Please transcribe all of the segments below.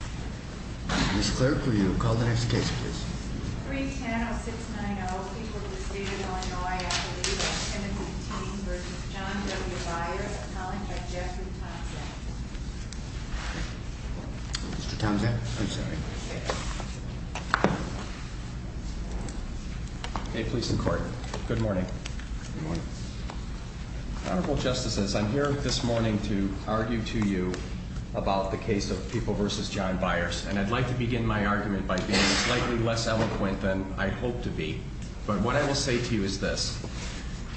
Mr. Tomzak, I'm sorry. Hey, police and court. Good morning. Honorable Justices, I'm here this morning to argue to you about the case of People v. John Byers. And I'd like to begin my argument by being slightly less eloquent than I hope to be. But what I will say to you is this.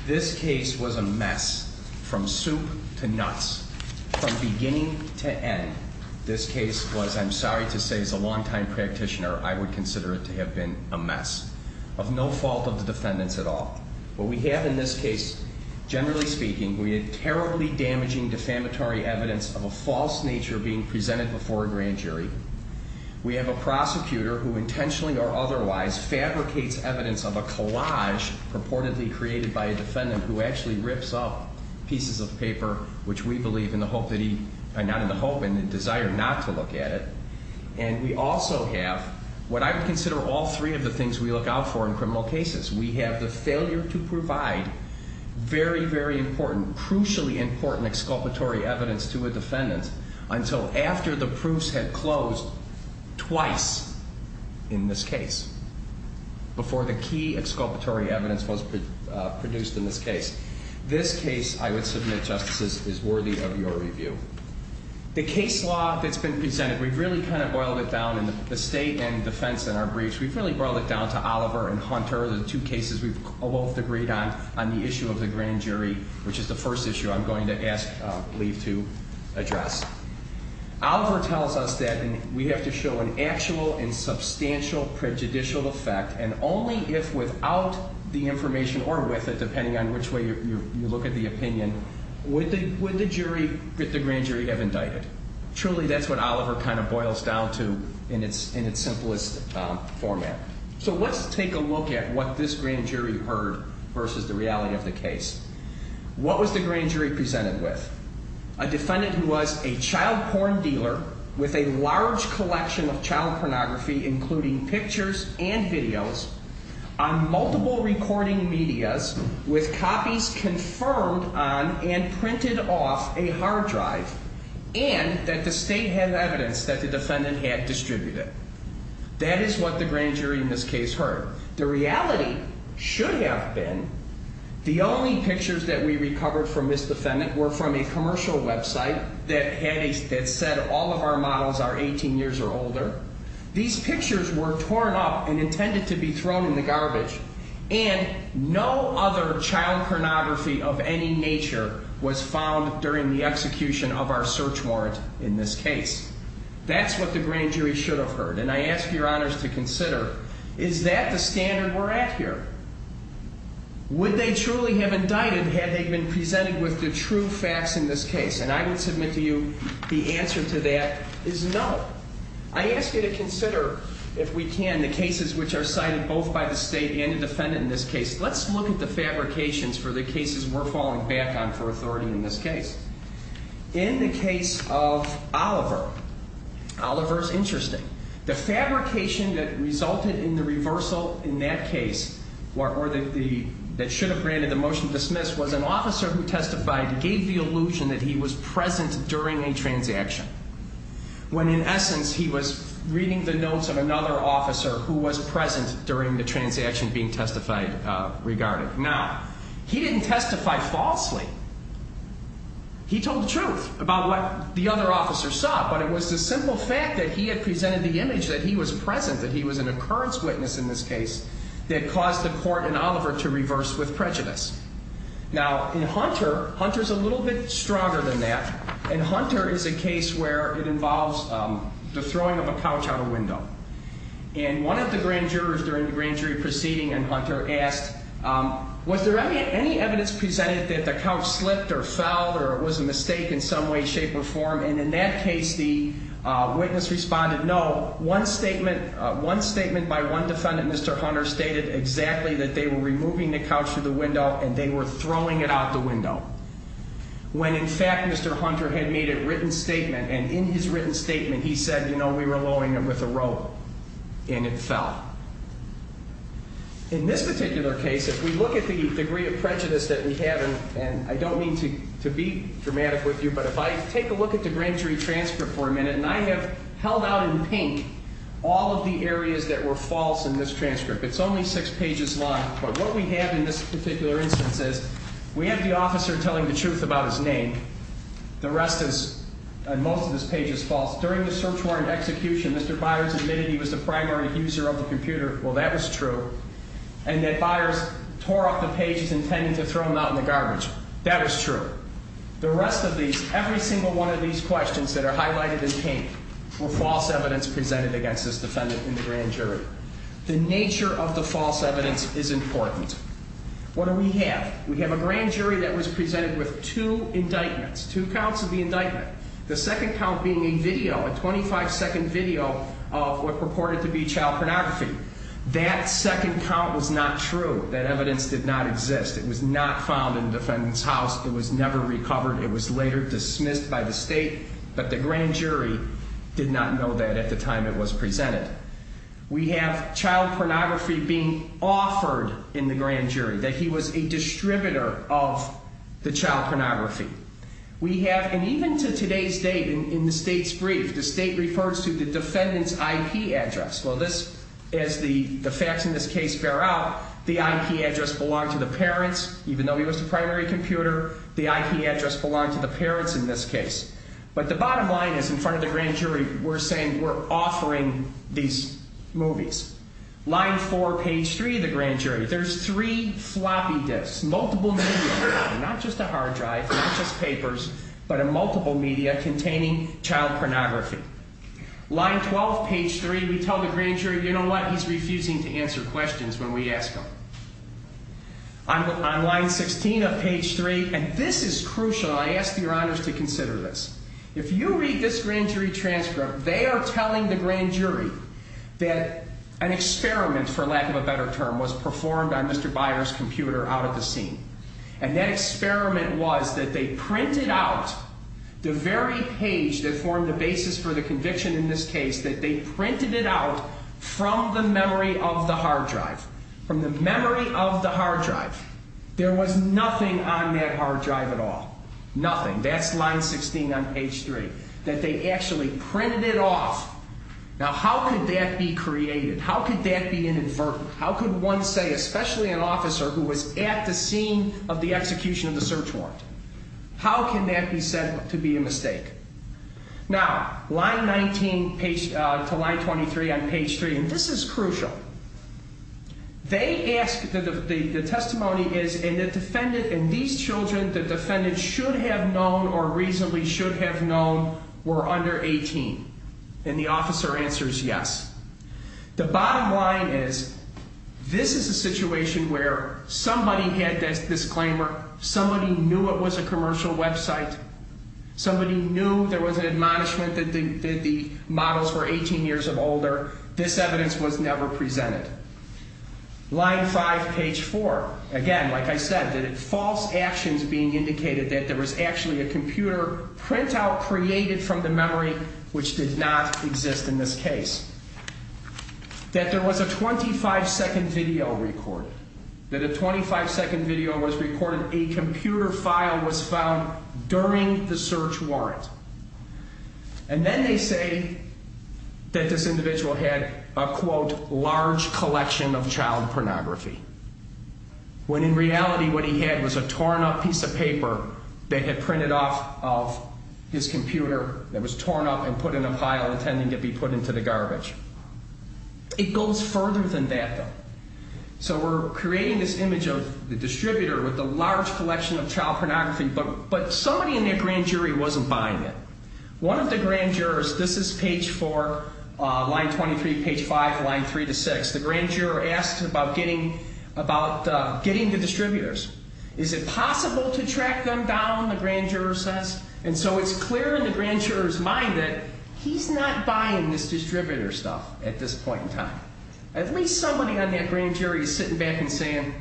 This case was a mess, from soup to nuts, from beginning to end. This case was, I'm sorry to say, as a long-time practitioner, I would consider it to have been a mess. Of no fault of the defendants at all. What we have in this case, generally speaking, we have terribly damaging defamatory evidence of a false nature being presented before a grand jury. We have a prosecutor who intentionally or otherwise fabricates evidence of a collage purportedly created by a defendant who actually rips up pieces of paper, which we believe in the hope that he, not in the hope, in the desire not to look at it. And we also have what I would consider all three of the things we look out for in criminal cases. We have the failure to provide very, very important, crucially important exculpatory evidence to a defendant until after the proofs had closed twice in this case, before the key exculpatory evidence was produced in this case. This case, I would submit, Justices, is worthy of your review. The case law that's been presented, we've really kind of boiled it down in the state and defense in our briefs. We've really boiled it down to Oliver and Hunter, the two cases we've both agreed on, on the issue of the grand jury, which is the first issue I'm going to ask Lee to address. Oliver tells us that we have to show an actual and substantial prejudicial effect, and only if without the information or with it, depending on which way you look at the opinion, would the grand jury have indicted. Truly, that's what Oliver kind of boils down to in its simplest format. So let's take a look at what this grand jury heard versus the reality of the case. What was the grand jury presented with? A defendant who was a child porn dealer with a large collection of child pornography, including pictures and videos, on multiple recording medias, with copies confirmed on and printed off a hard drive, and that the state had evidence that the defendant had distributed. That is what the grand jury in this case heard. The reality should have been the only pictures that we recovered from this defendant were from a commercial website that said all of our models are 18 years or older. These pictures were torn up and intended to be thrown in the garbage, and no other child pornography of any nature was found during the execution of our search warrant in this case. That's what the grand jury should have heard, and I ask your honors to consider, is that the standard we're at here? Would they truly have indicted had they been presented with the true facts in this case? And I would submit to you the answer to that is no. I ask you to consider, if we can, the cases which are cited both by the state and the defendant in this case. Let's look at the fabrications for the cases we're falling back on for authority in this case. In the case of Oliver, Oliver's interesting. The fabrication that resulted in the reversal in that case, or that should have granted the motion dismissed, was an officer who testified gave the illusion that he was present during a transaction. When, in essence, he was reading the notes of another officer who was present during the transaction being testified regarding. Now, he didn't testify falsely. He told the truth about what the other officer saw, but it was the simple fact that he had presented the image that he was present, that he was an occurrence witness in this case, that caused the court in Oliver to reverse with prejudice. Now, in Hunter, Hunter's a little bit stronger than that, and Hunter is a case where it involves the throwing of a couch out a window. And one of the grand jurors during the grand jury proceeding in Hunter asked, was there any evidence presented that the couch slipped or fell, or it was a mistake in some way, shape, or form? And in that case, the witness responded, no. One statement by one defendant, Mr. Hunter, stated exactly that they were removing the couch from the window, and they were throwing it out the window. When, in fact, Mr. Hunter had made a written statement, and in his written statement he said, you know, we were lowering it with a rope, and it fell. In this particular case, if we look at the degree of prejudice that we have, and I don't mean to be dramatic with you, but if I take a look at the grand jury transcript for a minute, and I have held out in pink all of the areas that were false in this transcript. It's only six pages long, but what we have in this particular instance is, we have the officer telling the truth about his name. The rest is, and most of this page is false. During the search warrant execution, Mr. Byers admitted he was the primary user of the computer. Well, that was true. And that Byers tore up the pages intending to throw them out in the garbage. That was true. The rest of these, every single one of these questions that are highlighted in pink, were false evidence presented against this defendant in the grand jury. The nature of the false evidence is important. What do we have? We have a grand jury that was presented with two indictments, two counts of the indictment, the second count being a video, a 25-second video of what purported to be child pornography. That second count was not true. That evidence did not exist. It was not found in the defendant's house. It was never recovered. It was later dismissed by the state, but the grand jury did not know that at the time it was presented. We have child pornography being offered in the grand jury, that he was a distributor of the child pornography. We have, and even to today's date in the state's brief, the state refers to the defendant's IP address. Well, this, as the facts in this case bear out, the IP address belonged to the parents. Even though he was the primary computer, the IP address belonged to the parents in this case. But the bottom line is, in front of the grand jury, we're saying we're offering these movies. Line 4, page 3 of the grand jury, there's three floppy disks, multiple media, not just a hard drive, not just papers, but a multiple media containing child pornography. Line 12, page 3, we tell the grand jury, you know what, he's refusing to answer questions when we ask them. On line 16 of page 3, and this is crucial, I ask your honors to consider this. If you read this grand jury transcript, they are telling the grand jury that an experiment, for lack of a better term, was performed on Mr. Byer's computer out at the scene. And that experiment was that they printed out the very page that formed the basis for the conviction in this case, that they printed it out from the memory of the hard drive. From the memory of the hard drive. There was nothing on that hard drive at all. Nothing. That's line 16 on page 3. That they actually printed it off. Now how could that be created? How could that be inadvertent? How could one say, especially an officer who was at the scene of the execution of the search warrant, how can that be said to be a mistake? Now, line 19 to line 23 on page 3, and this is crucial, they ask, the testimony is, and the defendant, and these children, the defendant should have known or reasonably should have known were under 18. And the officer answers yes. The bottom line is, this is a situation where somebody had this disclaimer, somebody knew it was a commercial website, somebody knew there was an admonishment that the models were 18 years or older, this evidence was never presented. Line 5, page 4, again, like I said, false actions being indicated that there was actually a computer printout created from the memory which did not exist in this case. That there was a 25 second video recorded. That a 25 second video was recorded. A computer file was found during the search warrant. And then they say that this individual had a, quote, large collection of child pornography. When in reality what he had was a torn up piece of paper that had printed off of his computer that was torn up and put in a pile intending to be put into the garbage. It goes further than that, though. So we're creating this image of the distributor with a large collection of child pornography, but somebody in that grand jury wasn't buying it. One of the grand jurors, this is page 4, line 23, page 5, line 3 to 6, the grand juror asks about getting the distributors. Is it possible to track them down, the grand juror says. And so it's clear in the grand juror's mind that he's not buying this distributor stuff at this point in time. At least somebody on that grand jury is sitting back and saying,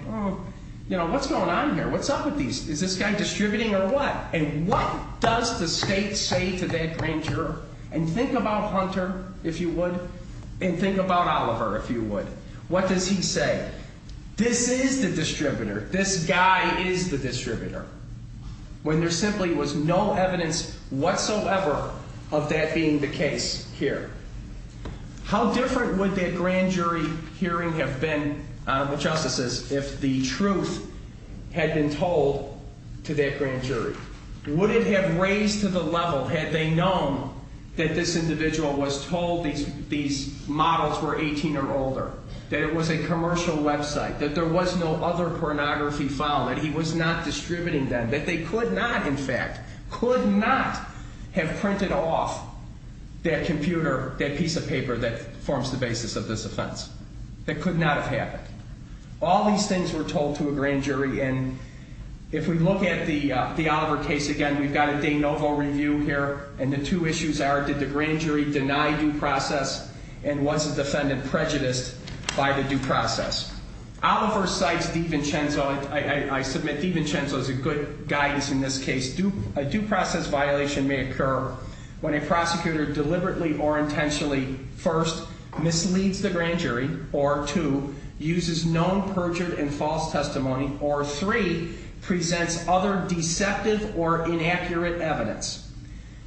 you know, what's going on here? What's up with these? Is this guy distributing or what? And what does the state say to that grand juror? And think about Hunter, if you would, and think about Oliver, if you would. What does he say? This is the distributor. This guy is the distributor. When there simply was no evidence whatsoever of that being the case here. How different would that grand jury hearing have been, Honorable Justices, if the truth had been told to that grand jury? Would it have raised to the level had they known that this individual was told these models were 18 or older, that it was a commercial website, that there was no other pornography found, that he was not distributing them, that they could not, in fact, could not have printed off that computer, that piece of paper that forms the basis of this offense. That could not have happened. All these things were told to a grand jury. And if we look at the Oliver case again, we've got a de novo review here. And the two issues are, did the grand jury deny due process and was the defendant prejudiced by the due process? Oliver cites DiVincenzo. I submit DiVincenzo is a good guidance in this case. A due process violation may occur when a prosecutor deliberately or intentionally, first, misleads the grand jury, or, two, uses known perjured and false testimony, or, three, presents other deceptive or inaccurate evidence.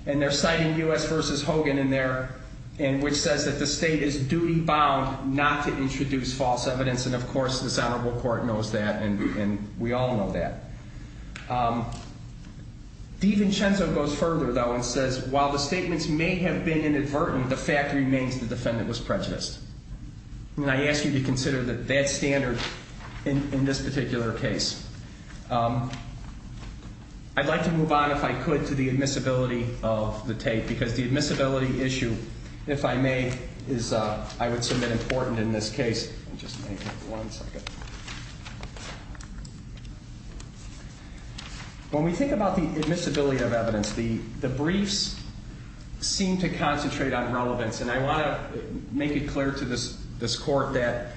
And they're citing U.S. v. Hogan in there, which says that the state is duty-bound not to introduce false evidence. And, of course, this Honorable Court knows that, and we all know that. DiVincenzo goes further, though, and says, while the statements may have been inadvertent, the fact remains the defendant was prejudiced. And I ask you to consider that that standard in this particular case. I'd like to move on, if I could, to the admissibility of the tape, because the admissibility issue, if I may, is I would submit important in this case. Just give me one second. When we think about the admissibility of evidence, the briefs seem to concentrate on relevance, and I want to make it clear to this Court that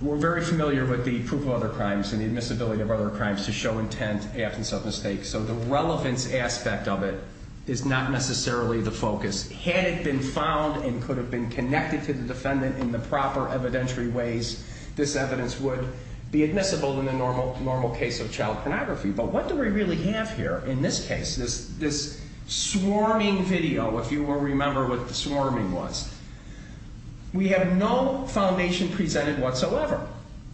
we're very familiar with the proof of other crimes and the admissibility of other crimes to show intent, absence of mistake. So the relevance aspect of it is not necessarily the focus. Had it been found and could have been connected to the defendant in the proper evidentiary ways, this evidence would be admissible in the normal case of child pornography. But what do we really have here in this case, this swarming video, if you will remember what the swarming was? We have no foundation presented whatsoever.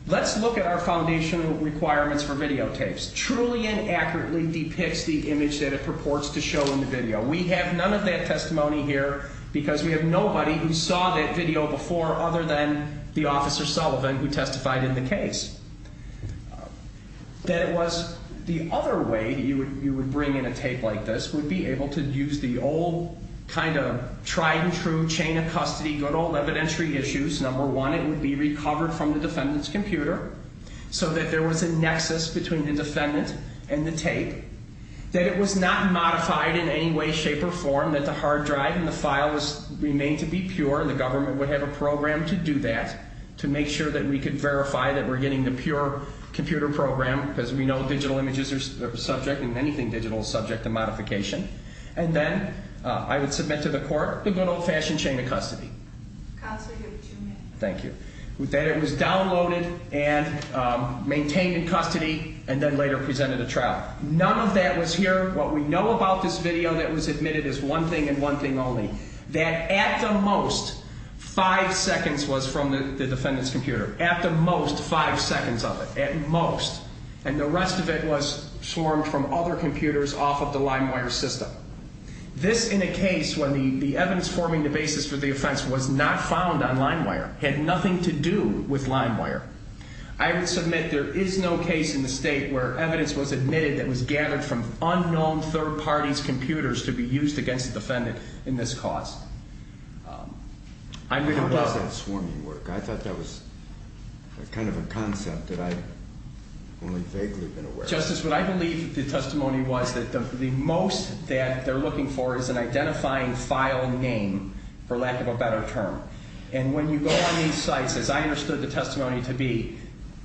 Let's look at our foundational requirements for videotapes. Truly and accurately depicts the image that it purports to show in the video. We have none of that testimony here because we have nobody who saw that video before other than the Officer Sullivan who testified in the case. That it was the other way you would bring in a tape like this would be able to use the old kind of tried and true chain of custody, good old evidentiary issues. Number one, it would be recovered from the defendant's computer so that there was a nexus between the defendant and the tape. That it was not modified in any way, shape, or form. That the hard drive and the file remain to be pure. The government would have a program to do that to make sure that we could verify that we're getting the pure computer program because we know digital images are subject and anything digital is subject to modification. And then I would submit to the court the good old fashioned chain of custody. Counsel, you have two minutes. Thank you. That it was downloaded and maintained in custody and then later presented to trial. None of that was here. What we know about this video that was admitted is one thing and one thing only. That at the most, five seconds was from the defendant's computer. At the most, five seconds of it. At most. And the rest of it was swarmed from other computers off of the LimeWire system. This in a case when the evidence forming the basis for the offense was not found on LimeWire. Had nothing to do with LimeWire. I would submit there is no case in the state where evidence was admitted that was gathered from unknown third parties' computers to be used against the defendant in this cause. How was that swarming work? I thought that was kind of a concept that I've only vaguely been aware of. Justice, what I believe the testimony was that the most that they're looking for is an identifying file name, for lack of a better term. And when you go on these sites, as I understood the testimony to be,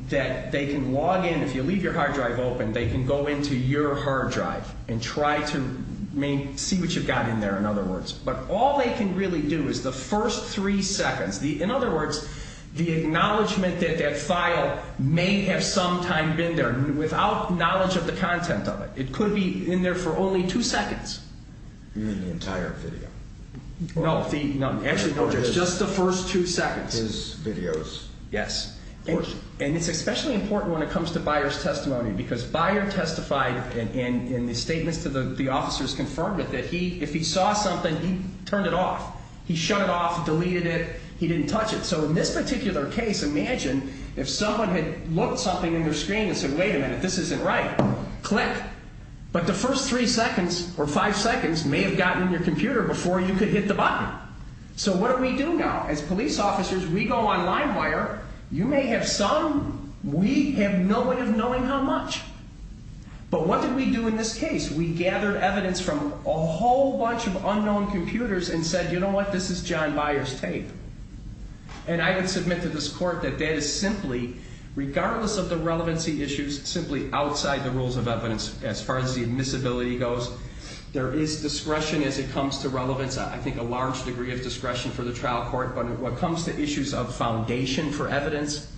that they can log in. If you leave your hard drive open, they can go into your hard drive and try to see what you've got in there, in other words. But all they can really do is the first three seconds. In other words, the acknowledgment that that file may have sometime been there without knowledge of the content of it. It could be in there for only two seconds. You mean the entire video? No, just the first two seconds. His videos? Yes. And it's especially important when it comes to Buyer's testimony, because Buyer testified in the statements to the officers confirmed that if he saw something, he turned it off. He shut it off, deleted it. He didn't touch it. So in this particular case, imagine if someone had looked something in their screen and said, wait a minute, this isn't right. Click. But the first three seconds or five seconds may have gotten in your computer before you could hit the button. So what do we do now? As police officers, we go online where you may have some, we have no way of knowing how much. But what did we do in this case? We gathered evidence from a whole bunch of unknown computers and said, you know what, this is John Buyer's tape. And I would submit to this court that that is simply, regardless of the relevancy issues, simply outside the rules of evidence as far as the admissibility goes. There is discretion as it comes to relevance. I think a large degree of discretion for the trial court. But when it comes to issues of foundation for evidence,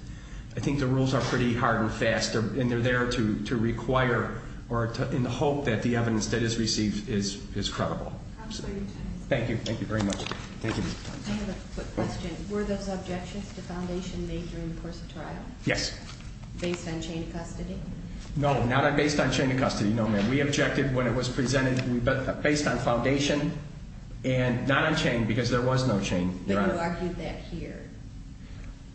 I think the rules are pretty hard and fast. And they're there to require or in the hope that the evidence that is received is credible. Absolutely. Thank you. Thank you very much. Thank you. I have a quick question. Were those objections to foundation made during the course of trial? Yes. Based on chain of custody? No, not based on chain of custody. No, ma'am. We objected when it was presented based on foundation and not on chain because there was no chain. But you argued that here.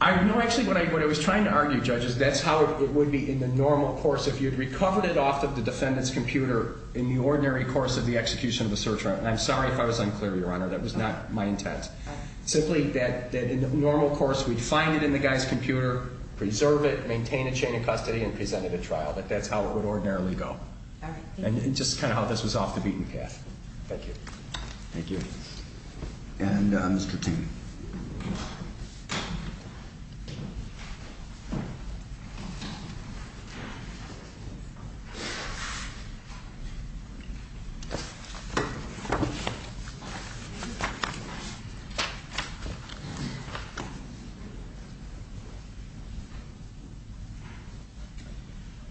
No, actually, what I was trying to argue, Judge, is that's how it would be in the normal course. If you'd recovered it off of the defendant's computer in the ordinary course of the execution of the search warrant. I'm sorry if I was unclear, Your Honor. That was not my intent. Simply that in the normal course, we'd find it in the guy's computer, preserve it, maintain a chain of custody, and present it at trial. That's how it would ordinarily go. All right. Thank you. And just kind of how this was off the beaten path. Thank you. Thank you. And Mr. Ting.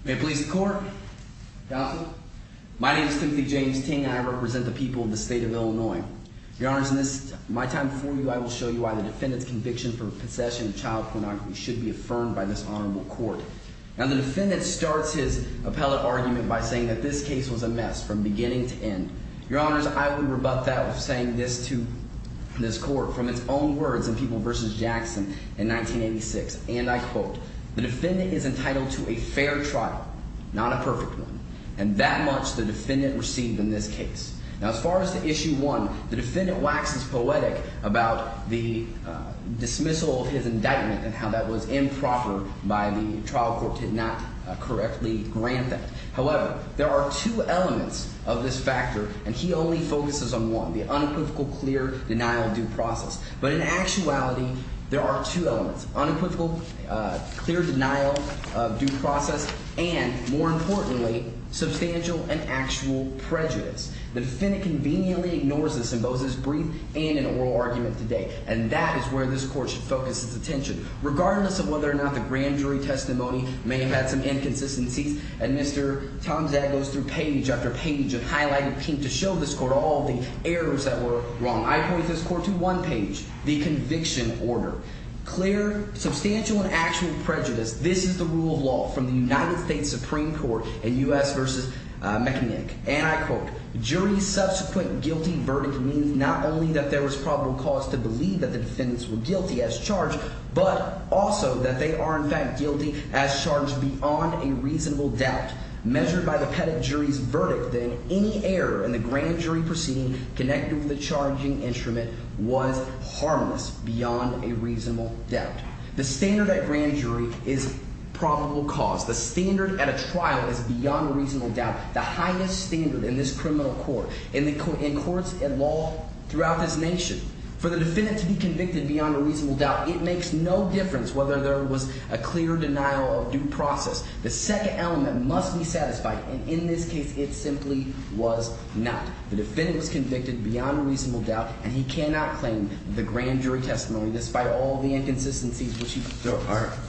May it please the court. Counsel. My name is Timothy James Ting. I represent the people of the state of Illinois. Your Honor, in my time before you, I will show you why the defendant's conviction for possession of child pornography should be affirmed by this honorable court. Now, the defendant starts his appellate argument by saying that this case was a mess from beginning to end. Your Honor, I would rebut that with saying this to this court from its own words in People v. Jackson in 1986. And I quote, the defendant is entitled to a fair trial, not a perfect one. And that much the defendant received in this case. Now, as far as the issue one, the defendant waxes poetic about the dismissal of his indictment and how that was improper by the trial court, did not correctly grant that. However, there are two elements of this factor, and he only focuses on one, the unequivocal, clear denial of due process. But in actuality, there are two elements, unequivocal, clear denial of due process, and more importantly, substantial and actual prejudice. The defendant conveniently ignores this in both his brief and in oral argument today. And that is where this court should focus its attention. Regardless of whether or not the grand jury testimony may have had some inconsistencies, and Mr. Tomczak goes through page after page of highlighted paint to show this court all the errors that were wrong. I point this court to one page, the conviction order. Clear, substantial, and actual prejudice. This is the rule of law from the United States Supreme Court in U.S. v. McKinnick. And I quote, jury's subsequent guilty verdict means not only that there was probable cause to believe that the defendants were guilty as charged, but also that they are in fact guilty as charged beyond a reasonable doubt. Measured by the petit jury's verdict, then, any error in the grand jury proceeding connected with the charging instrument was harmless beyond a reasonable doubt. The standard at grand jury is probable cause. The standard at a trial is beyond a reasonable doubt, the highest standard in this criminal court, in courts and law throughout this nation. For the defendant to be convicted beyond a reasonable doubt, it makes no difference whether there was a clear denial of due process. The second element must be satisfied, and in this case, it simply was not. The defendant was convicted beyond a reasonable doubt, and he cannot claim the grand jury testimony despite all the inconsistencies which he posed. So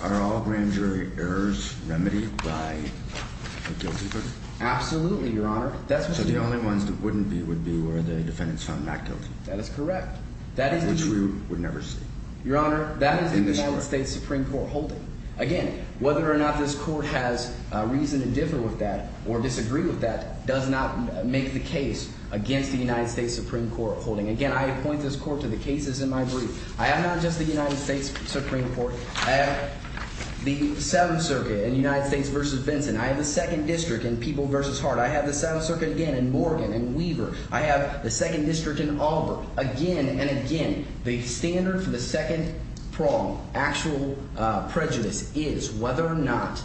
are all grand jury errors remedied by a guilty verdict? Absolutely, Your Honor. That's what we believe. So the only ones that wouldn't be would be where the defendants found not guilty. That is correct. Which we would never see. Your Honor, that is in the United States Supreme Court holding. Again, whether or not this court has reason to differ with that or disagree with that does not make the case against the United States Supreme Court holding. Again, I appoint this court to the cases in my brief. I have not just the United States Supreme Court. I have the Seventh Circuit in United States v. Vinson. I have the Second District in People v. Hart. I have the Seventh Circuit again in Morgan and Weaver. I have the Second District in Auburn. Again and again, the standard for the second prong, actual prejudice, is whether or not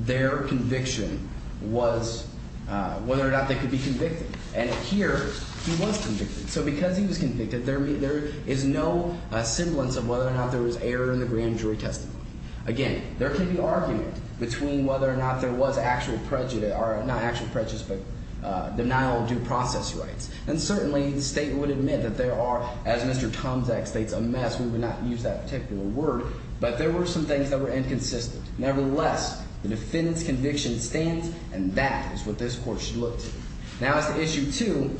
their conviction was – whether or not they could be convicted. And here he was convicted. So because he was convicted, there is no semblance of whether or not there was error in the grand jury testimony. Again, there can be argument between whether or not there was actual prejudice – or not actual prejudice but denial of due process rights. And certainly the state would admit that there are, as Mr. Tomczak states, a mess. We would not use that particular word. But there were some things that were inconsistent. Nevertheless, the defendant's conviction stands, and that is what this court should look to. Now, as to issue two,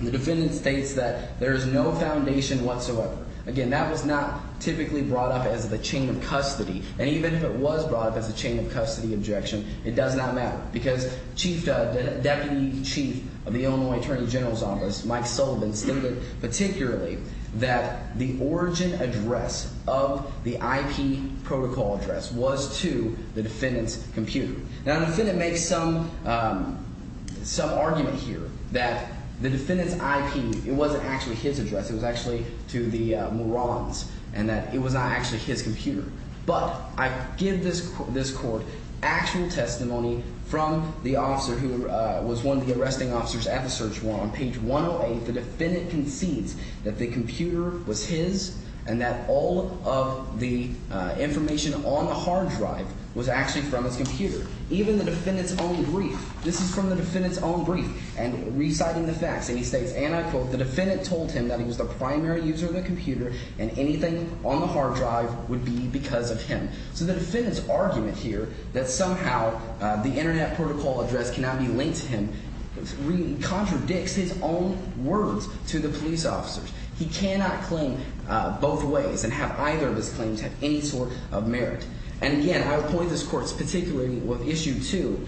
the defendant states that there is no foundation whatsoever. Again, that was not typically brought up as the chain of custody. And even if it was brought up as a chain of custody objection, it does not matter. Because Chief – Deputy Chief of the Illinois Attorney General's Office, Mike Sullivan, stated particularly that the origin address of the IP protocol address was to the defendant's computer. Now, the defendant makes some argument here that the defendant's IP – it wasn't actually his address. It was actually to the Muran's and that it was not actually his computer. But I give this court actual testimony from the officer who was one of the arresting officers at the search warrant. On page 108, the defendant concedes that the computer was his and that all of the information on the hard drive was actually from his computer, even the defendant's own brief. This is from the defendant's own brief. And reciting the facts, and he states, and I quote, the defendant told him that he was the primary user of the computer and anything on the hard drive would be because of him. So the defendant's argument here that somehow the internet protocol address cannot be linked to him contradicts his own words to the police officers. He cannot claim both ways and have either of his claims have any sort of merit. And again, I would point this court particularly with issue two,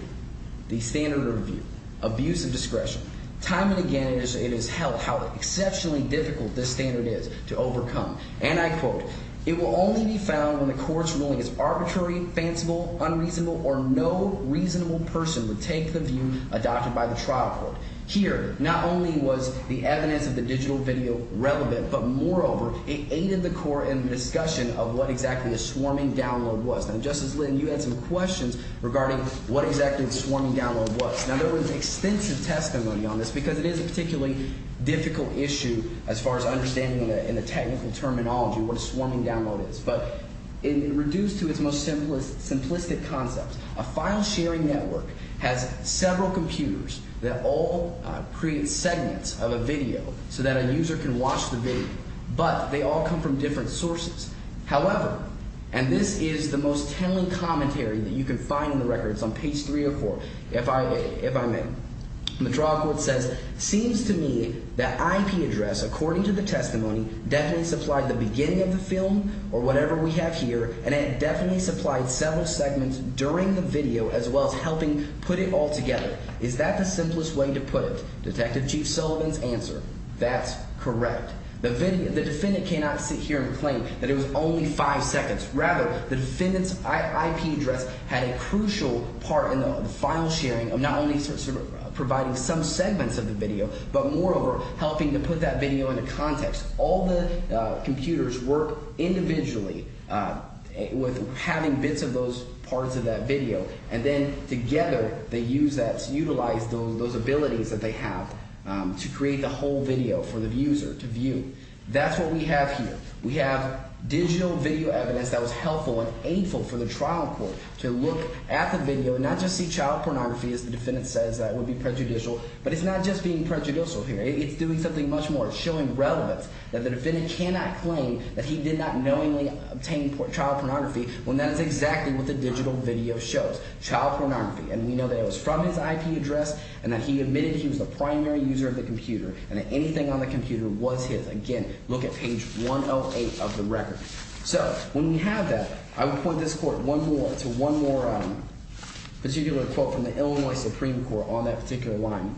the standard of view, abuse of discretion. Time and again it is held how exceptionally difficult this standard is to overcome. And I quote, it will only be found when the court's ruling is arbitrary, fanciful, unreasonable, or no reasonable person would take the view adopted by the trial court. Here, not only was the evidence of the digital video relevant, but moreover, it aided the court in the discussion of what exactly a swarming download was. Now, Justice Lynn, you had some questions regarding what exactly a swarming download was. Now, there was extensive testimony on this because it is a particularly difficult issue as far as understanding in the technical terminology what a swarming download is. But reduced to its most simplistic concept, a file sharing network has several computers that all create segments of a video so that a user can watch the video. But they all come from different sources. However, and this is the most telling commentary that you can find in the records on page 304, if I may. The trial court says, seems to me that IP address, according to the testimony, definitely supplied the beginning of the film or whatever we have here, and it definitely supplied several segments during the video as well as helping put it all together. Is that the simplest way to put it? Detective Chief Sullivan's answer, that's correct. The defendant cannot sit here and claim that it was only five seconds. Rather, the defendant's IP address had a crucial part in the file sharing of not only providing some segments of the video but moreover helping to put that video into context. All the computers work individually with having bits of those parts of that video, and then together they use that to utilize those abilities that they have to create the whole video for the user to view. That's what we have here. We have digital video evidence that was helpful and aidful for the trial court to look at the video and not just see child pornography, as the defendant says, that would be prejudicial. But it's not just being prejudicial here. It's doing something much more. It's showing relevance that the defendant cannot claim that he did not knowingly obtain child pornography when that is exactly what the digital video shows, child pornography. And we know that it was from his IP address and that he admitted he was the primary user of the computer and that anything on the computer was his. And again, look at page 108 of the record. So when we have that, I would point this court one more – to one more particular quote from the Illinois Supreme Court on that particular line.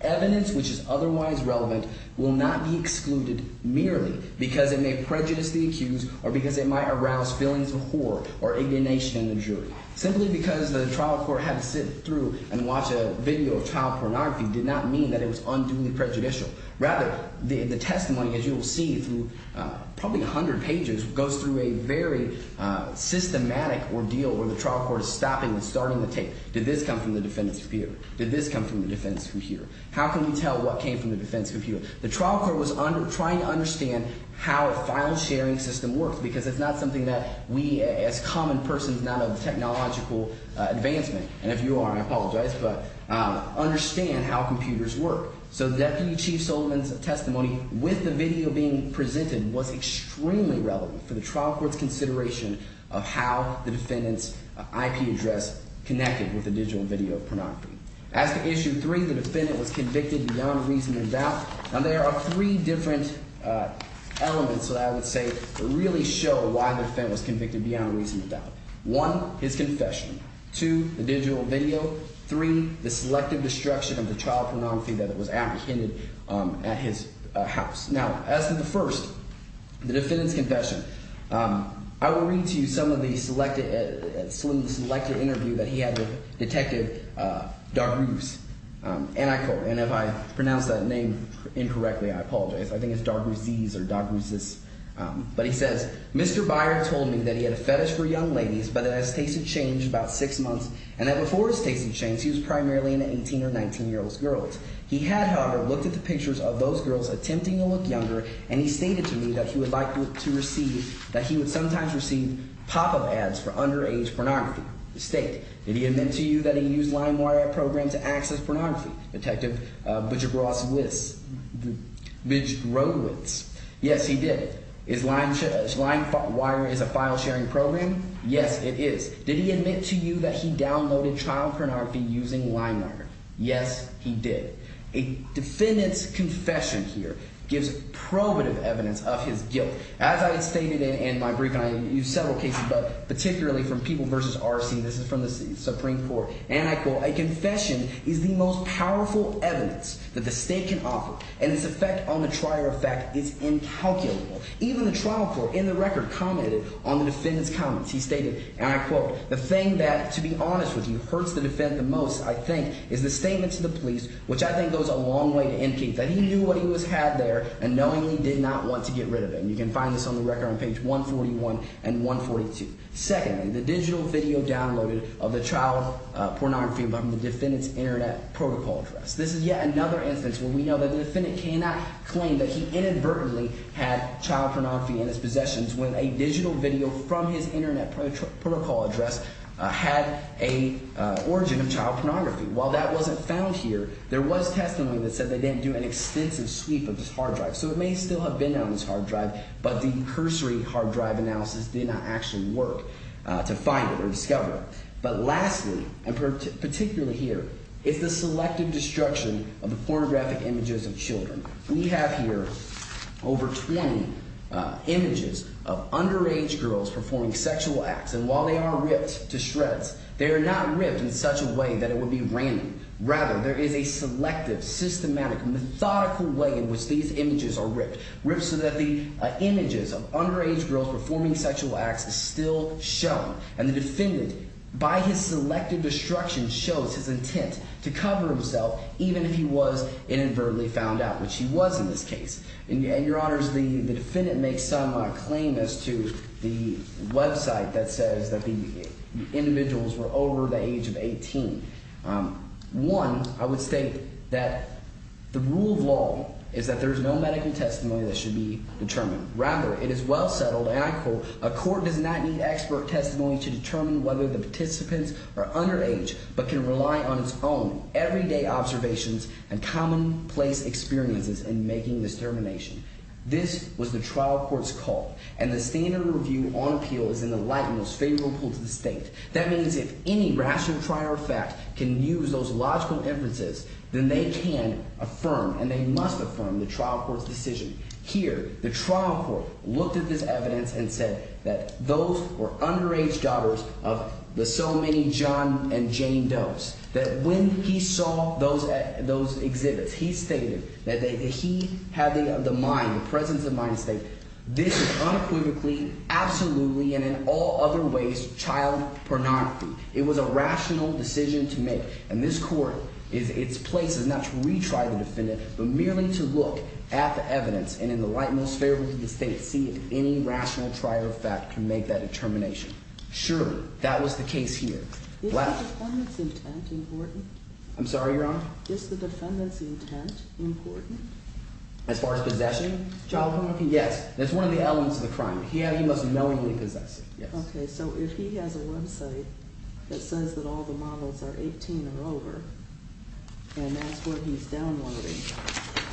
Evidence which is otherwise relevant will not be excluded merely because it may prejudice the accused or because it might arouse feelings of horror or indignation in the jury. Simply because the trial court had to sit through and watch a video of child pornography did not mean that it was unduly prejudicial. Rather, the testimony, as you will see through probably 100 pages, goes through a very systematic ordeal where the trial court is stopping and starting the tape. Did this come from the defendant's computer? Did this come from the defendant's computer? How can we tell what came from the defendant's computer? The trial court was trying to understand how a file-sharing system works because it's not something that we as common persons, not of technological advancement – and if you are, I apologize – but understand how computers work. So the deputy chief Soltman's testimony with the video being presented was extremely relevant for the trial court's consideration of how the defendant's IP address connected with the digital video pornography. As to issue three, the defendant was convicted beyond reasonable doubt. Now, there are three different elements that I would say really show why the defendant was convicted beyond reasonable doubt. One, his confession. Two, the digital video. Three, the selective destruction of the child pornography that was apprehended at his house. Now, as to the first, the defendant's confession, I will read to you some of the selected – some of the selected interview that he had with Detective Dargouze, and I quote – and if I pronounce that name incorrectly, I apologize. I think it's Dargouzees or Dargouzes. But he says, Mr. Byer told me that he had a fetish for young ladies, but that his taste had changed about six months, and that before his taste had changed, he was primarily into 18- or 19-year-olds girls. He had, however, looked at the pictures of those girls attempting to look younger, and he stated to me that he would like to receive – that he would sometimes receive pop-up ads for underage pornography. The state. Did he admit to you that he used LimeWire program to access pornography? Detective Budgebross-Witz. Yes, he did. Is LimeWire a file-sharing program? Yes, it is. Did he admit to you that he downloaded child pornography using LimeWire? Yes, he did. A defendant's confession here gives probative evidence of his guilt. As I had stated in my brief, and I used several cases, but particularly from People v. R.C. This is from the Supreme Court, and I quote, A confession is the most powerful evidence that the state can offer, and its effect on the trier of fact is incalculable. Even the trial court in the record commented on the defendant's comments. He stated, and I quote, The thing that, to be honest with you, hurts the defendant the most, I think, is the statement to the police, which I think goes a long way to indicate that he knew what he had there and knowingly did not want to get rid of it. And you can find this on the record on page 141 and 142. Secondly, the digital video downloaded of the child pornography from the defendant's internet protocol address. This is yet another instance where we know that the defendant cannot claim that he inadvertently had child pornography in his possessions when a digital video from his internet protocol address had a origin of child pornography. While that wasn't found here, there was testimony that said they didn't do an extensive sweep of this hard drive. So it may still have been on this hard drive, but the cursory hard drive analysis did not actually work to find it or discover it. But lastly, and particularly here, is the selective destruction of the pornographic images of children. We have here over 20 images of underage girls performing sexual acts, and while they are ripped to shreds, they are not ripped in such a way that it would be random. Rather, there is a selective, systematic, methodical way in which these images are ripped, ripped so that the images of underage girls performing sexual acts is still shown. And the defendant, by his selective destruction, shows his intent to cover himself even if he was inadvertently found out, which he was in this case. And, Your Honors, the defendant makes some claim as to the website that says that the individuals were over the age of 18. One, I would state that the rule of law is that there is no medical testimony that should be determined. Rather, it is well settled, and I quote, a court does not need expert testimony to determine whether the participants are underage but can rely on its own everyday observations and commonplace experiences in making this determination. This was the trial court's call, and the standard review on appeal is in the light and most favorable to the state. That means if any rational trial fact can use those logical inferences, then they can affirm and they must affirm the trial court's decision. Here, the trial court looked at this evidence and said that those were underage daughters of the so many John and Jane Doe's, that when he saw those exhibits, he stated that he had the mind, the presence of mind to state this is unequivocally, absolutely, and in all other ways child pornography. It was a rational decision to make, and this court is – its place is not to retry the defendant but merely to look at the evidence and in the light and most favorable to the state and see if any rational trial fact can make that determination. Surely, that was the case here. Is the defendant's intent important? I'm sorry, Your Honor? Is the defendant's intent important? As far as possession of child pornography? Yes. That's one of the elements of the crime. He must knowingly possess it. Okay, so if he has a website that says that all the models are 18 and over, and that's what he's downloading,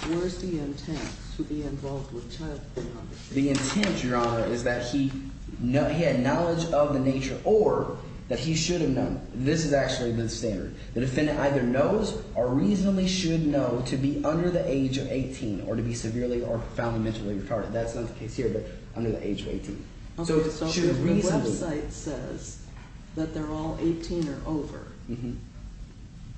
where is the intent to be involved with child pornography? The intent, Your Honor, is that he had knowledge of the nature or that he should have known. This is actually the standard. The defendant either knows or reasonably should know to be under the age of 18 or to be severely or profoundly mentally retarded. That's not the case here but under the age of 18. Okay, so if the website says that they're all 18 or over,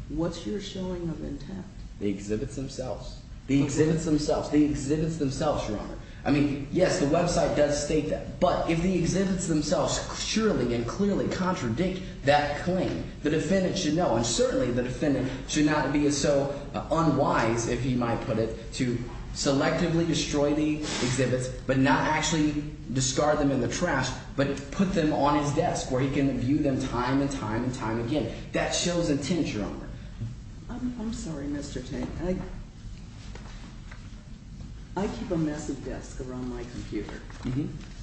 what's your showing of intent? The exhibits themselves. The exhibits themselves. The exhibits themselves, Your Honor. I mean, yes, the website does state that, but if the exhibits themselves surely and clearly contradict that claim, the defendant should know, and certainly the defendant should not be so unwise, if you might put it, to selectively destroy the exhibits but not actually discard them in the trash but put them on his desk where he can view them time and time and time again. That shows intent, Your Honor. I'm sorry, Mr. Tate. I keep a messy desk around my computer.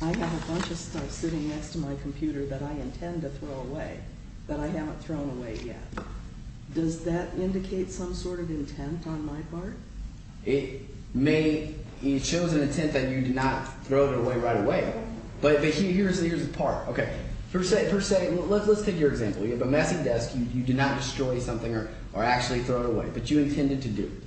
I have a bunch of stuff sitting next to my computer that I intend to throw away that I haven't thrown away yet. Does that indicate some sort of intent on my part? It may – it shows an intent that you did not throw it away right away, but here's the part. Okay, per se – let's take your example. You have a messy desk. You did not destroy something or actually throw it away, but you intended to do it.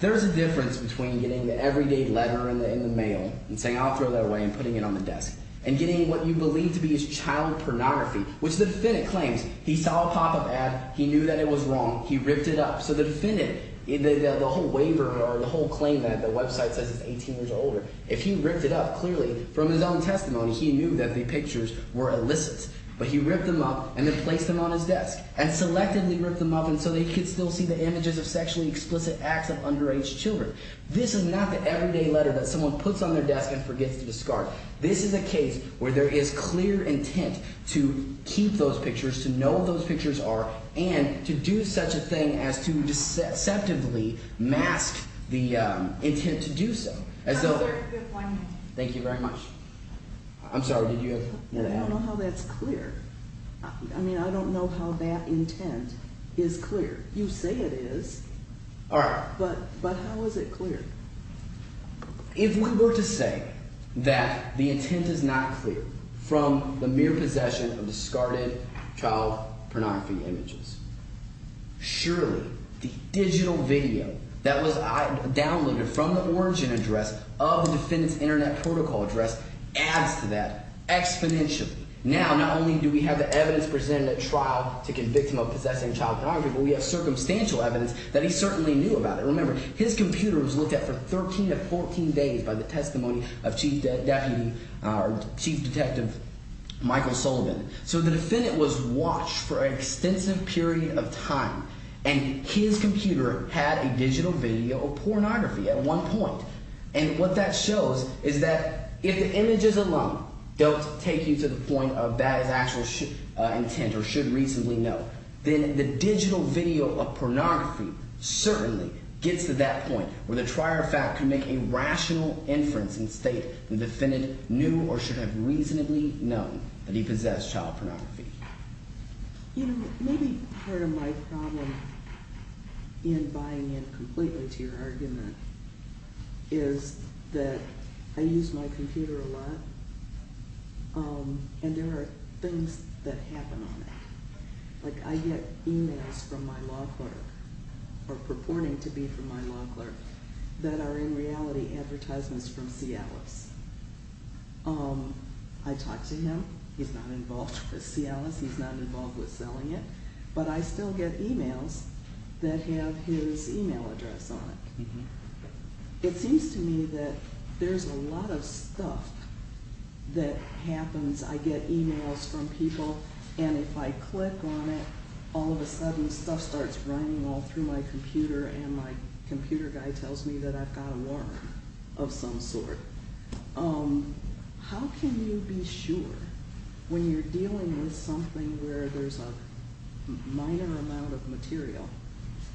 There's a difference between getting the everyday letter in the mail and saying I'll throw that away and putting it on the desk and getting what you believe to be his child pornography, which the defendant claims. He saw a pop-up ad. He knew that it was wrong. He ripped it up. So the defendant – the whole waiver or the whole claim that the website says it's 18 years or older, if he ripped it up, clearly from his own testimony he knew that the pictures were illicit. But he ripped them up and then placed them on his desk and selectively ripped them up so that he could still see the images of sexually explicit acts of underage children. This is not the everyday letter that someone puts on their desk and forgets to discard. This is a case where there is clear intent to keep those pictures, to know what those pictures are, and to do such a thing as to deceptively mask the intent to do so. So there – thank you very much. I'm sorry. Did you have more to add? I don't know how that's clear. I mean I don't know how that intent is clear. You say it is. All right. But how is it clear? If we were to say that the intent is not clear from the mere possession of discarded child pornography images, surely the digital video that was downloaded from the origin address of the defendant's internet protocol address adds to that exponentially. Now, not only do we have the evidence presented at trial to convict him of possessing child pornography, but we have circumstantial evidence that he certainly knew about it. Remember, his computer was looked at for 13 to 14 days by the testimony of Chief Detective Michael Sullivan. So the defendant was watched for an extensive period of time, and his computer had a digital video of pornography at one point. And what that shows is that if the images alone don't take you to the point of that is actual intent or should reasonably know, then the digital video of pornography certainly gets to that point where the trier of fact can make a rational inference and state the defendant knew or should have reasonably known that he possessed child pornography. You know, maybe part of my problem in buying in completely to your argument is that I use my computer a lot, and there are things that happen on it. Like, I get emails from my law clerk, or purporting to be from my law clerk, that are in reality advertisements from Cialis. I talk to him, he's not involved with Cialis, he's not involved with selling it, but I still get emails that have his email address on it. It seems to me that there's a lot of stuff that happens. I get emails from people, and if I click on it, all of a sudden stuff starts running all through my computer, and my computer guy tells me that I've got a warrant of some sort. How can you be sure when you're dealing with something where there's a minor amount of material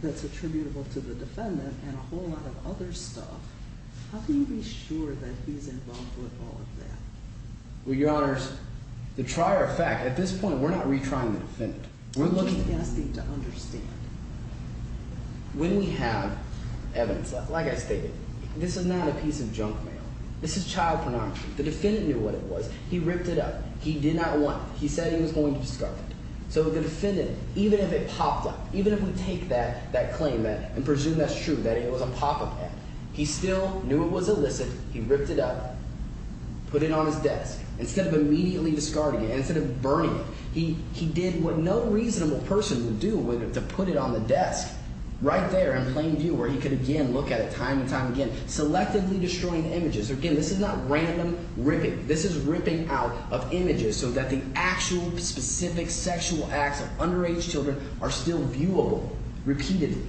that's attributable to the defendant and a whole lot of other stuff? How can you be sure that he's involved with all of that? Well, Your Honors, the trier of fact – at this point, we're not retrying the defendant. We're looking at – Like I stated, this is not a piece of junk mail. This is child pornography. The defendant knew what it was. He ripped it up. He did not want it. He said he was going to discard it. So the defendant, even if it popped up, even if we take that claim and presume that's true, that it was a pop-up ad, he still knew it was illicit. He ripped it up, put it on his desk instead of immediately discarding it, instead of burning it. He did what no reasonable person would do to put it on the desk right there in plain view where he could, again, look at it time and time again, selectively destroying images. Again, this is not random ripping. This is ripping out of images so that the actual specific sexual acts of underage children are still viewable repeatedly.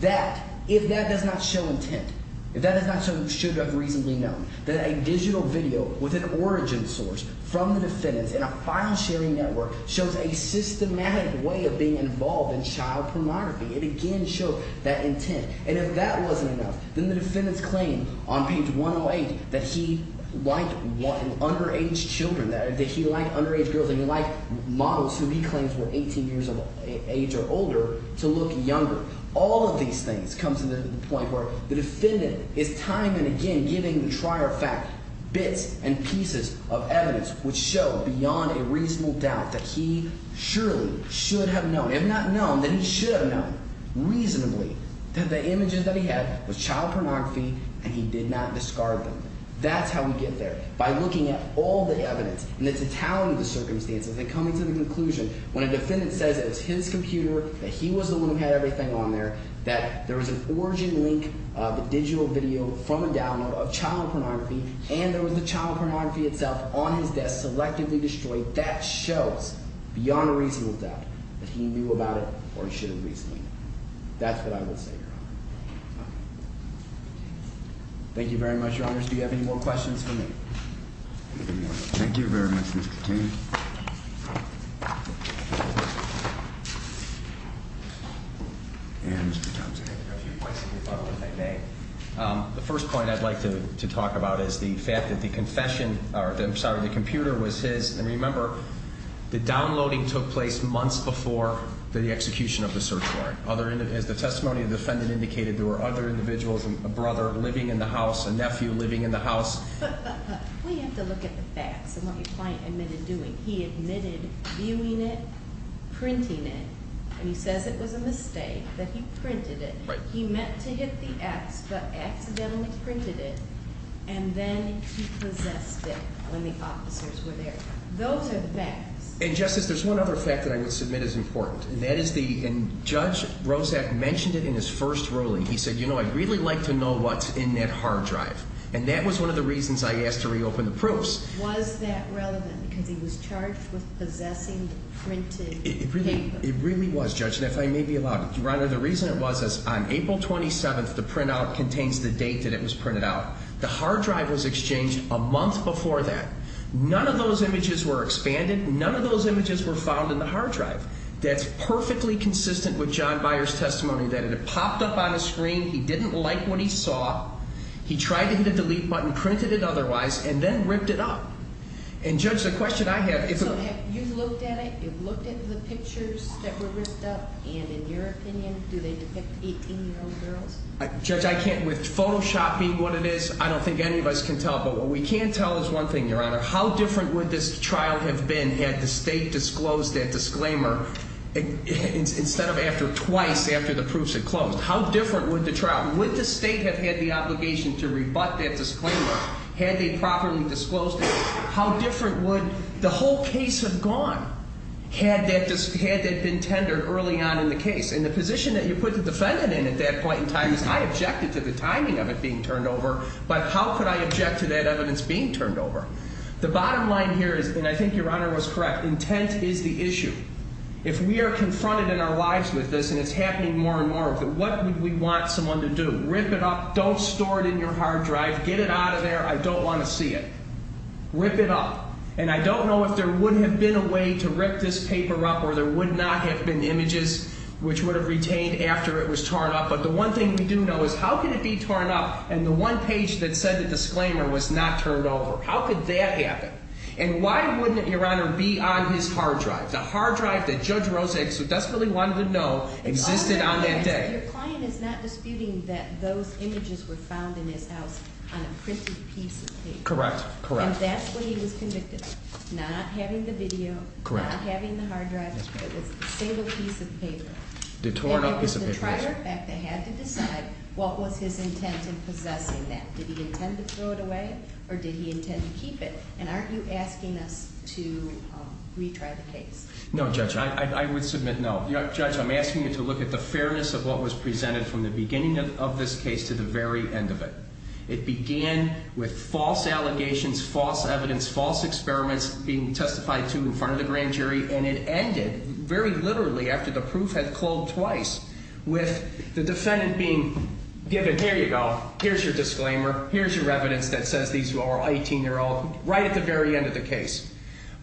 That – if that does not show intent, if that does not show who should have reasonably known, that a digital video with an origin source from the defendant in a file-sharing network shows a systematic way of being involved in child pornography. It again shows that intent. And if that wasn't enough, then the defendant's claim on page 108 that he liked underage children, that he liked underage girls…… that he liked models who he claims were 18 years of age or older to look younger. All of these things come to the point where the defendant is time and again giving the trier fact bits and pieces of evidence which show beyond a reasonable doubt that he surely should have known. If not known, then he should have known reasonably that the images that he had was child pornography and he did not discard them. That's how we get there, by looking at all the evidence and at the talent of the circumstances and coming to the conclusion when a defendant says that it was his computer, that he was the one who had everything on there…… that there was an origin link, the digital video from a download of child pornography, and there was the child pornography itself on his desk selectively destroyed. That shows beyond a reasonable doubt that he knew about it or he should have reasonably known. Thank you very much, Your Honors. Do you have any more questions for me? Thank you very much, Mr. King. The first point I'd like to talk about is the fact that the computer was his, and remember, the downloading took place months before the execution of the search warrant. As the testimony of the defendant indicated, there were other individuals, a brother living in the house, a nephew living in the house. We have to look at the facts and what your client admitted doing. He admitted viewing it, printing it, and he says it was a mistake that he printed it. He meant to hit the X, but accidentally printed it, and then he possessed it when the officers were there. Those are the facts. And, Justice, there's one other fact that I would submit as important, and that is the – and Judge Rozak mentioned it in his first ruling. He said, you know, I'd really like to know what's in that hard drive, and that was one of the reasons I asked to reopen the proofs. Was that relevant because he was charged with possessing the printed paper? It really was, Judge, and if I may be allowed – Your Honor, the reason it was is on April 27th, the printout contains the date that it was printed out. The hard drive was exchanged a month before that. None of those images were expanded. None of those images were found in the hard drive. That's perfectly consistent with John Byer's testimony, that it had popped up on the screen. He didn't like what he saw. He tried to hit the delete button, printed it otherwise, and then ripped it up. And, Judge, the question I have – So have you looked at it? You've looked at the pictures that were ripped up, and in your opinion, do they depict 18-year-old girls? Judge, I can't – With Photoshop being what it is, I don't think any of us can tell, but what we can tell is one thing, Your Honor. How different would this trial have been had the State disclosed that disclaimer instead of after – twice after the proofs had closed? How different would the trial – Would the State have had the obligation to rebut that disclaimer had they properly disclosed it? How different would the whole case have gone had that been tendered early on in the case? And the position that you put the defendant in at that point in time is I objected to the timing of it being turned over, but how could I object to that evidence being turned over? The bottom line here is – And I think Your Honor was correct. Intent is the issue. If we are confronted in our lives with this and it's happening more and more, what would we want someone to do? Rip it up. Don't store it in your hard drive. Get it out of there. I don't want to see it. Rip it up. And I don't know if there would have been a way to rip this paper up or there would not have been images which would have retained after it was torn up, but the one thing we do know is how can it be torn up and the one page that said the disclaimer was not turned over? How could that happen? And why wouldn't it, Your Honor, be on his hard drive? The hard drive that Judge Rosa exudes desperately wanted to know existed on that day. Your client is not disputing that those images were found in his house on a printed piece of paper. Correct. And that's what he was convicted of, not having the video, not having the hard drive. It was a single piece of paper. And it was the trier effect that had to decide what was his intent in possessing that. Did he intend to throw it away or did he intend to keep it? And aren't you asking us to retry the case? No, Judge. I would submit no. Judge, I'm asking you to look at the fairness of what was presented from the beginning of this case to the very end of it. It began with false allegations, false evidence, false experiments being testified to in front of the grand jury. And it ended very literally after the proof had culled twice with the defendant being given, here you go, here's your disclaimer, here's your evidence that says these are all 18-year-olds, right at the very end of the case.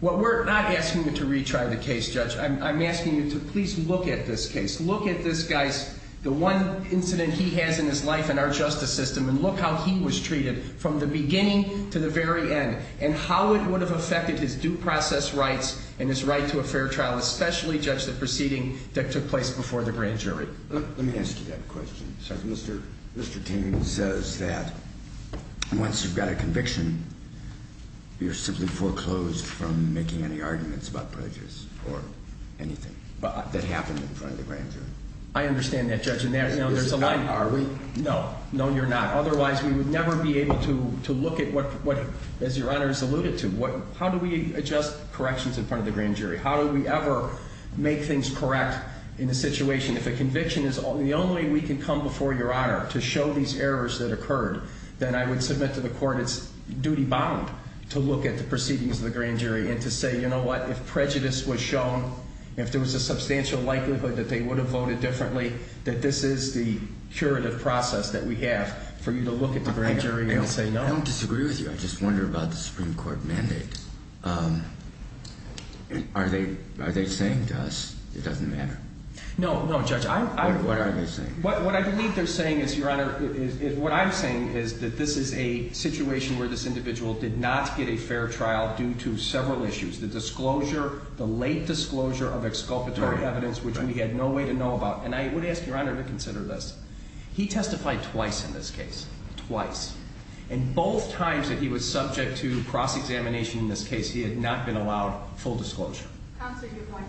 What we're not asking you to retry the case, Judge. I'm asking you to please look at this case. Look at this guy's, the one incident he has in his life in our justice system and look how he was treated from the beginning to the very end and how it would have affected his due process rights and his right to a fair trial, especially, Judge, the proceeding that took place before the grand jury. Let me ask you that question. Mr. Teague says that once you've got a conviction, you're simply foreclosed from making any arguments about prejudice or anything that happened in front of the grand jury. I understand that, Judge. Are we? No. No, you're not. Otherwise, we would never be able to look at what, as Your Honor has alluded to, how do we adjust corrections in front of the grand jury? How do we ever make things correct in a situation? If a conviction is the only way we can come before Your Honor to show these errors that occurred, then I would submit to the court it's duty bound to look at the proceedings of the grand jury and to say, you know what, if prejudice was shown, if there was a substantial likelihood that they would have voted differently, that this is the curative process that we have for you to look at the grand jury and say no. I don't disagree with you. I just wonder about the Supreme Court mandate. Are they saying to us it doesn't matter? No, no, Judge. What are they saying? What I believe they're saying is, Your Honor, what I'm saying is that this is a situation where this individual did not get a fair trial due to several issues. The disclosure, the late disclosure of exculpatory evidence, which we had no way to know about. And I would ask Your Honor to consider this. He testified twice in this case. Twice. And both times that he was subject to cross-examination in this case, he had not been allowed full disclosure. Counsel, give one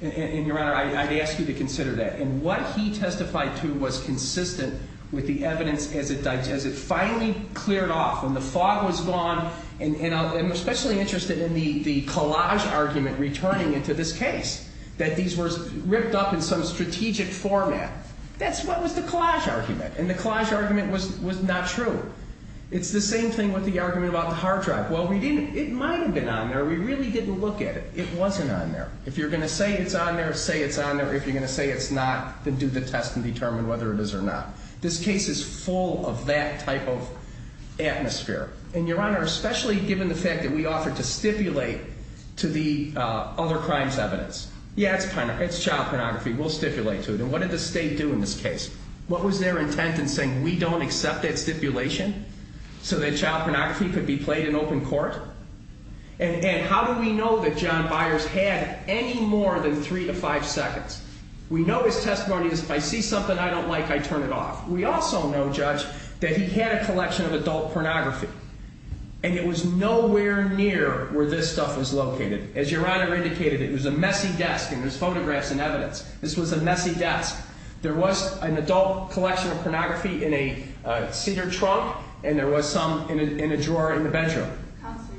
minute. And, Your Honor, I'd ask you to consider that. And what he testified to was consistent with the evidence as it finally cleared off, when the fog was gone. And I'm especially interested in the collage argument returning into this case, that these were ripped up in some strategic format. That's what was the collage argument. And the collage argument was not true. It's the same thing with the argument about the hard drive. Well, it might have been on there. We really didn't look at it. It wasn't on there. If you're going to say it's on there, say it's on there. If you're going to say it's not, then do the test and determine whether it is or not. This case is full of that type of atmosphere. And, Your Honor, especially given the fact that we offered to stipulate to the other crimes evidence. Yeah, it's child pornography. We'll stipulate to it. And what did the state do in this case? What was their intent in saying, we don't accept that stipulation so that child pornography could be played in open court? And how do we know that John Byers had any more than three to five seconds? We know his testimony is, if I see something I don't like, I turn it off. We also know, Judge, that he had a collection of adult pornography. And it was nowhere near where this stuff was located. As Your Honor indicated, it was a messy desk, and there's photographs and evidence. This was a messy desk. There was an adult collection of pornography in a cedar trunk, and there was some in a drawer in the bedroom.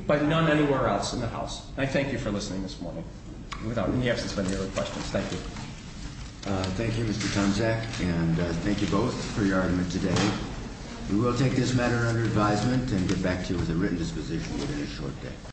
But none anywhere else in the house. I thank you for listening this morning, without any absence of any other questions. Thank you. Thank you, Mr. Tomczak, and thank you both for your argument today. We will take this matter under advisement and get back to you with a written disposition within a short day.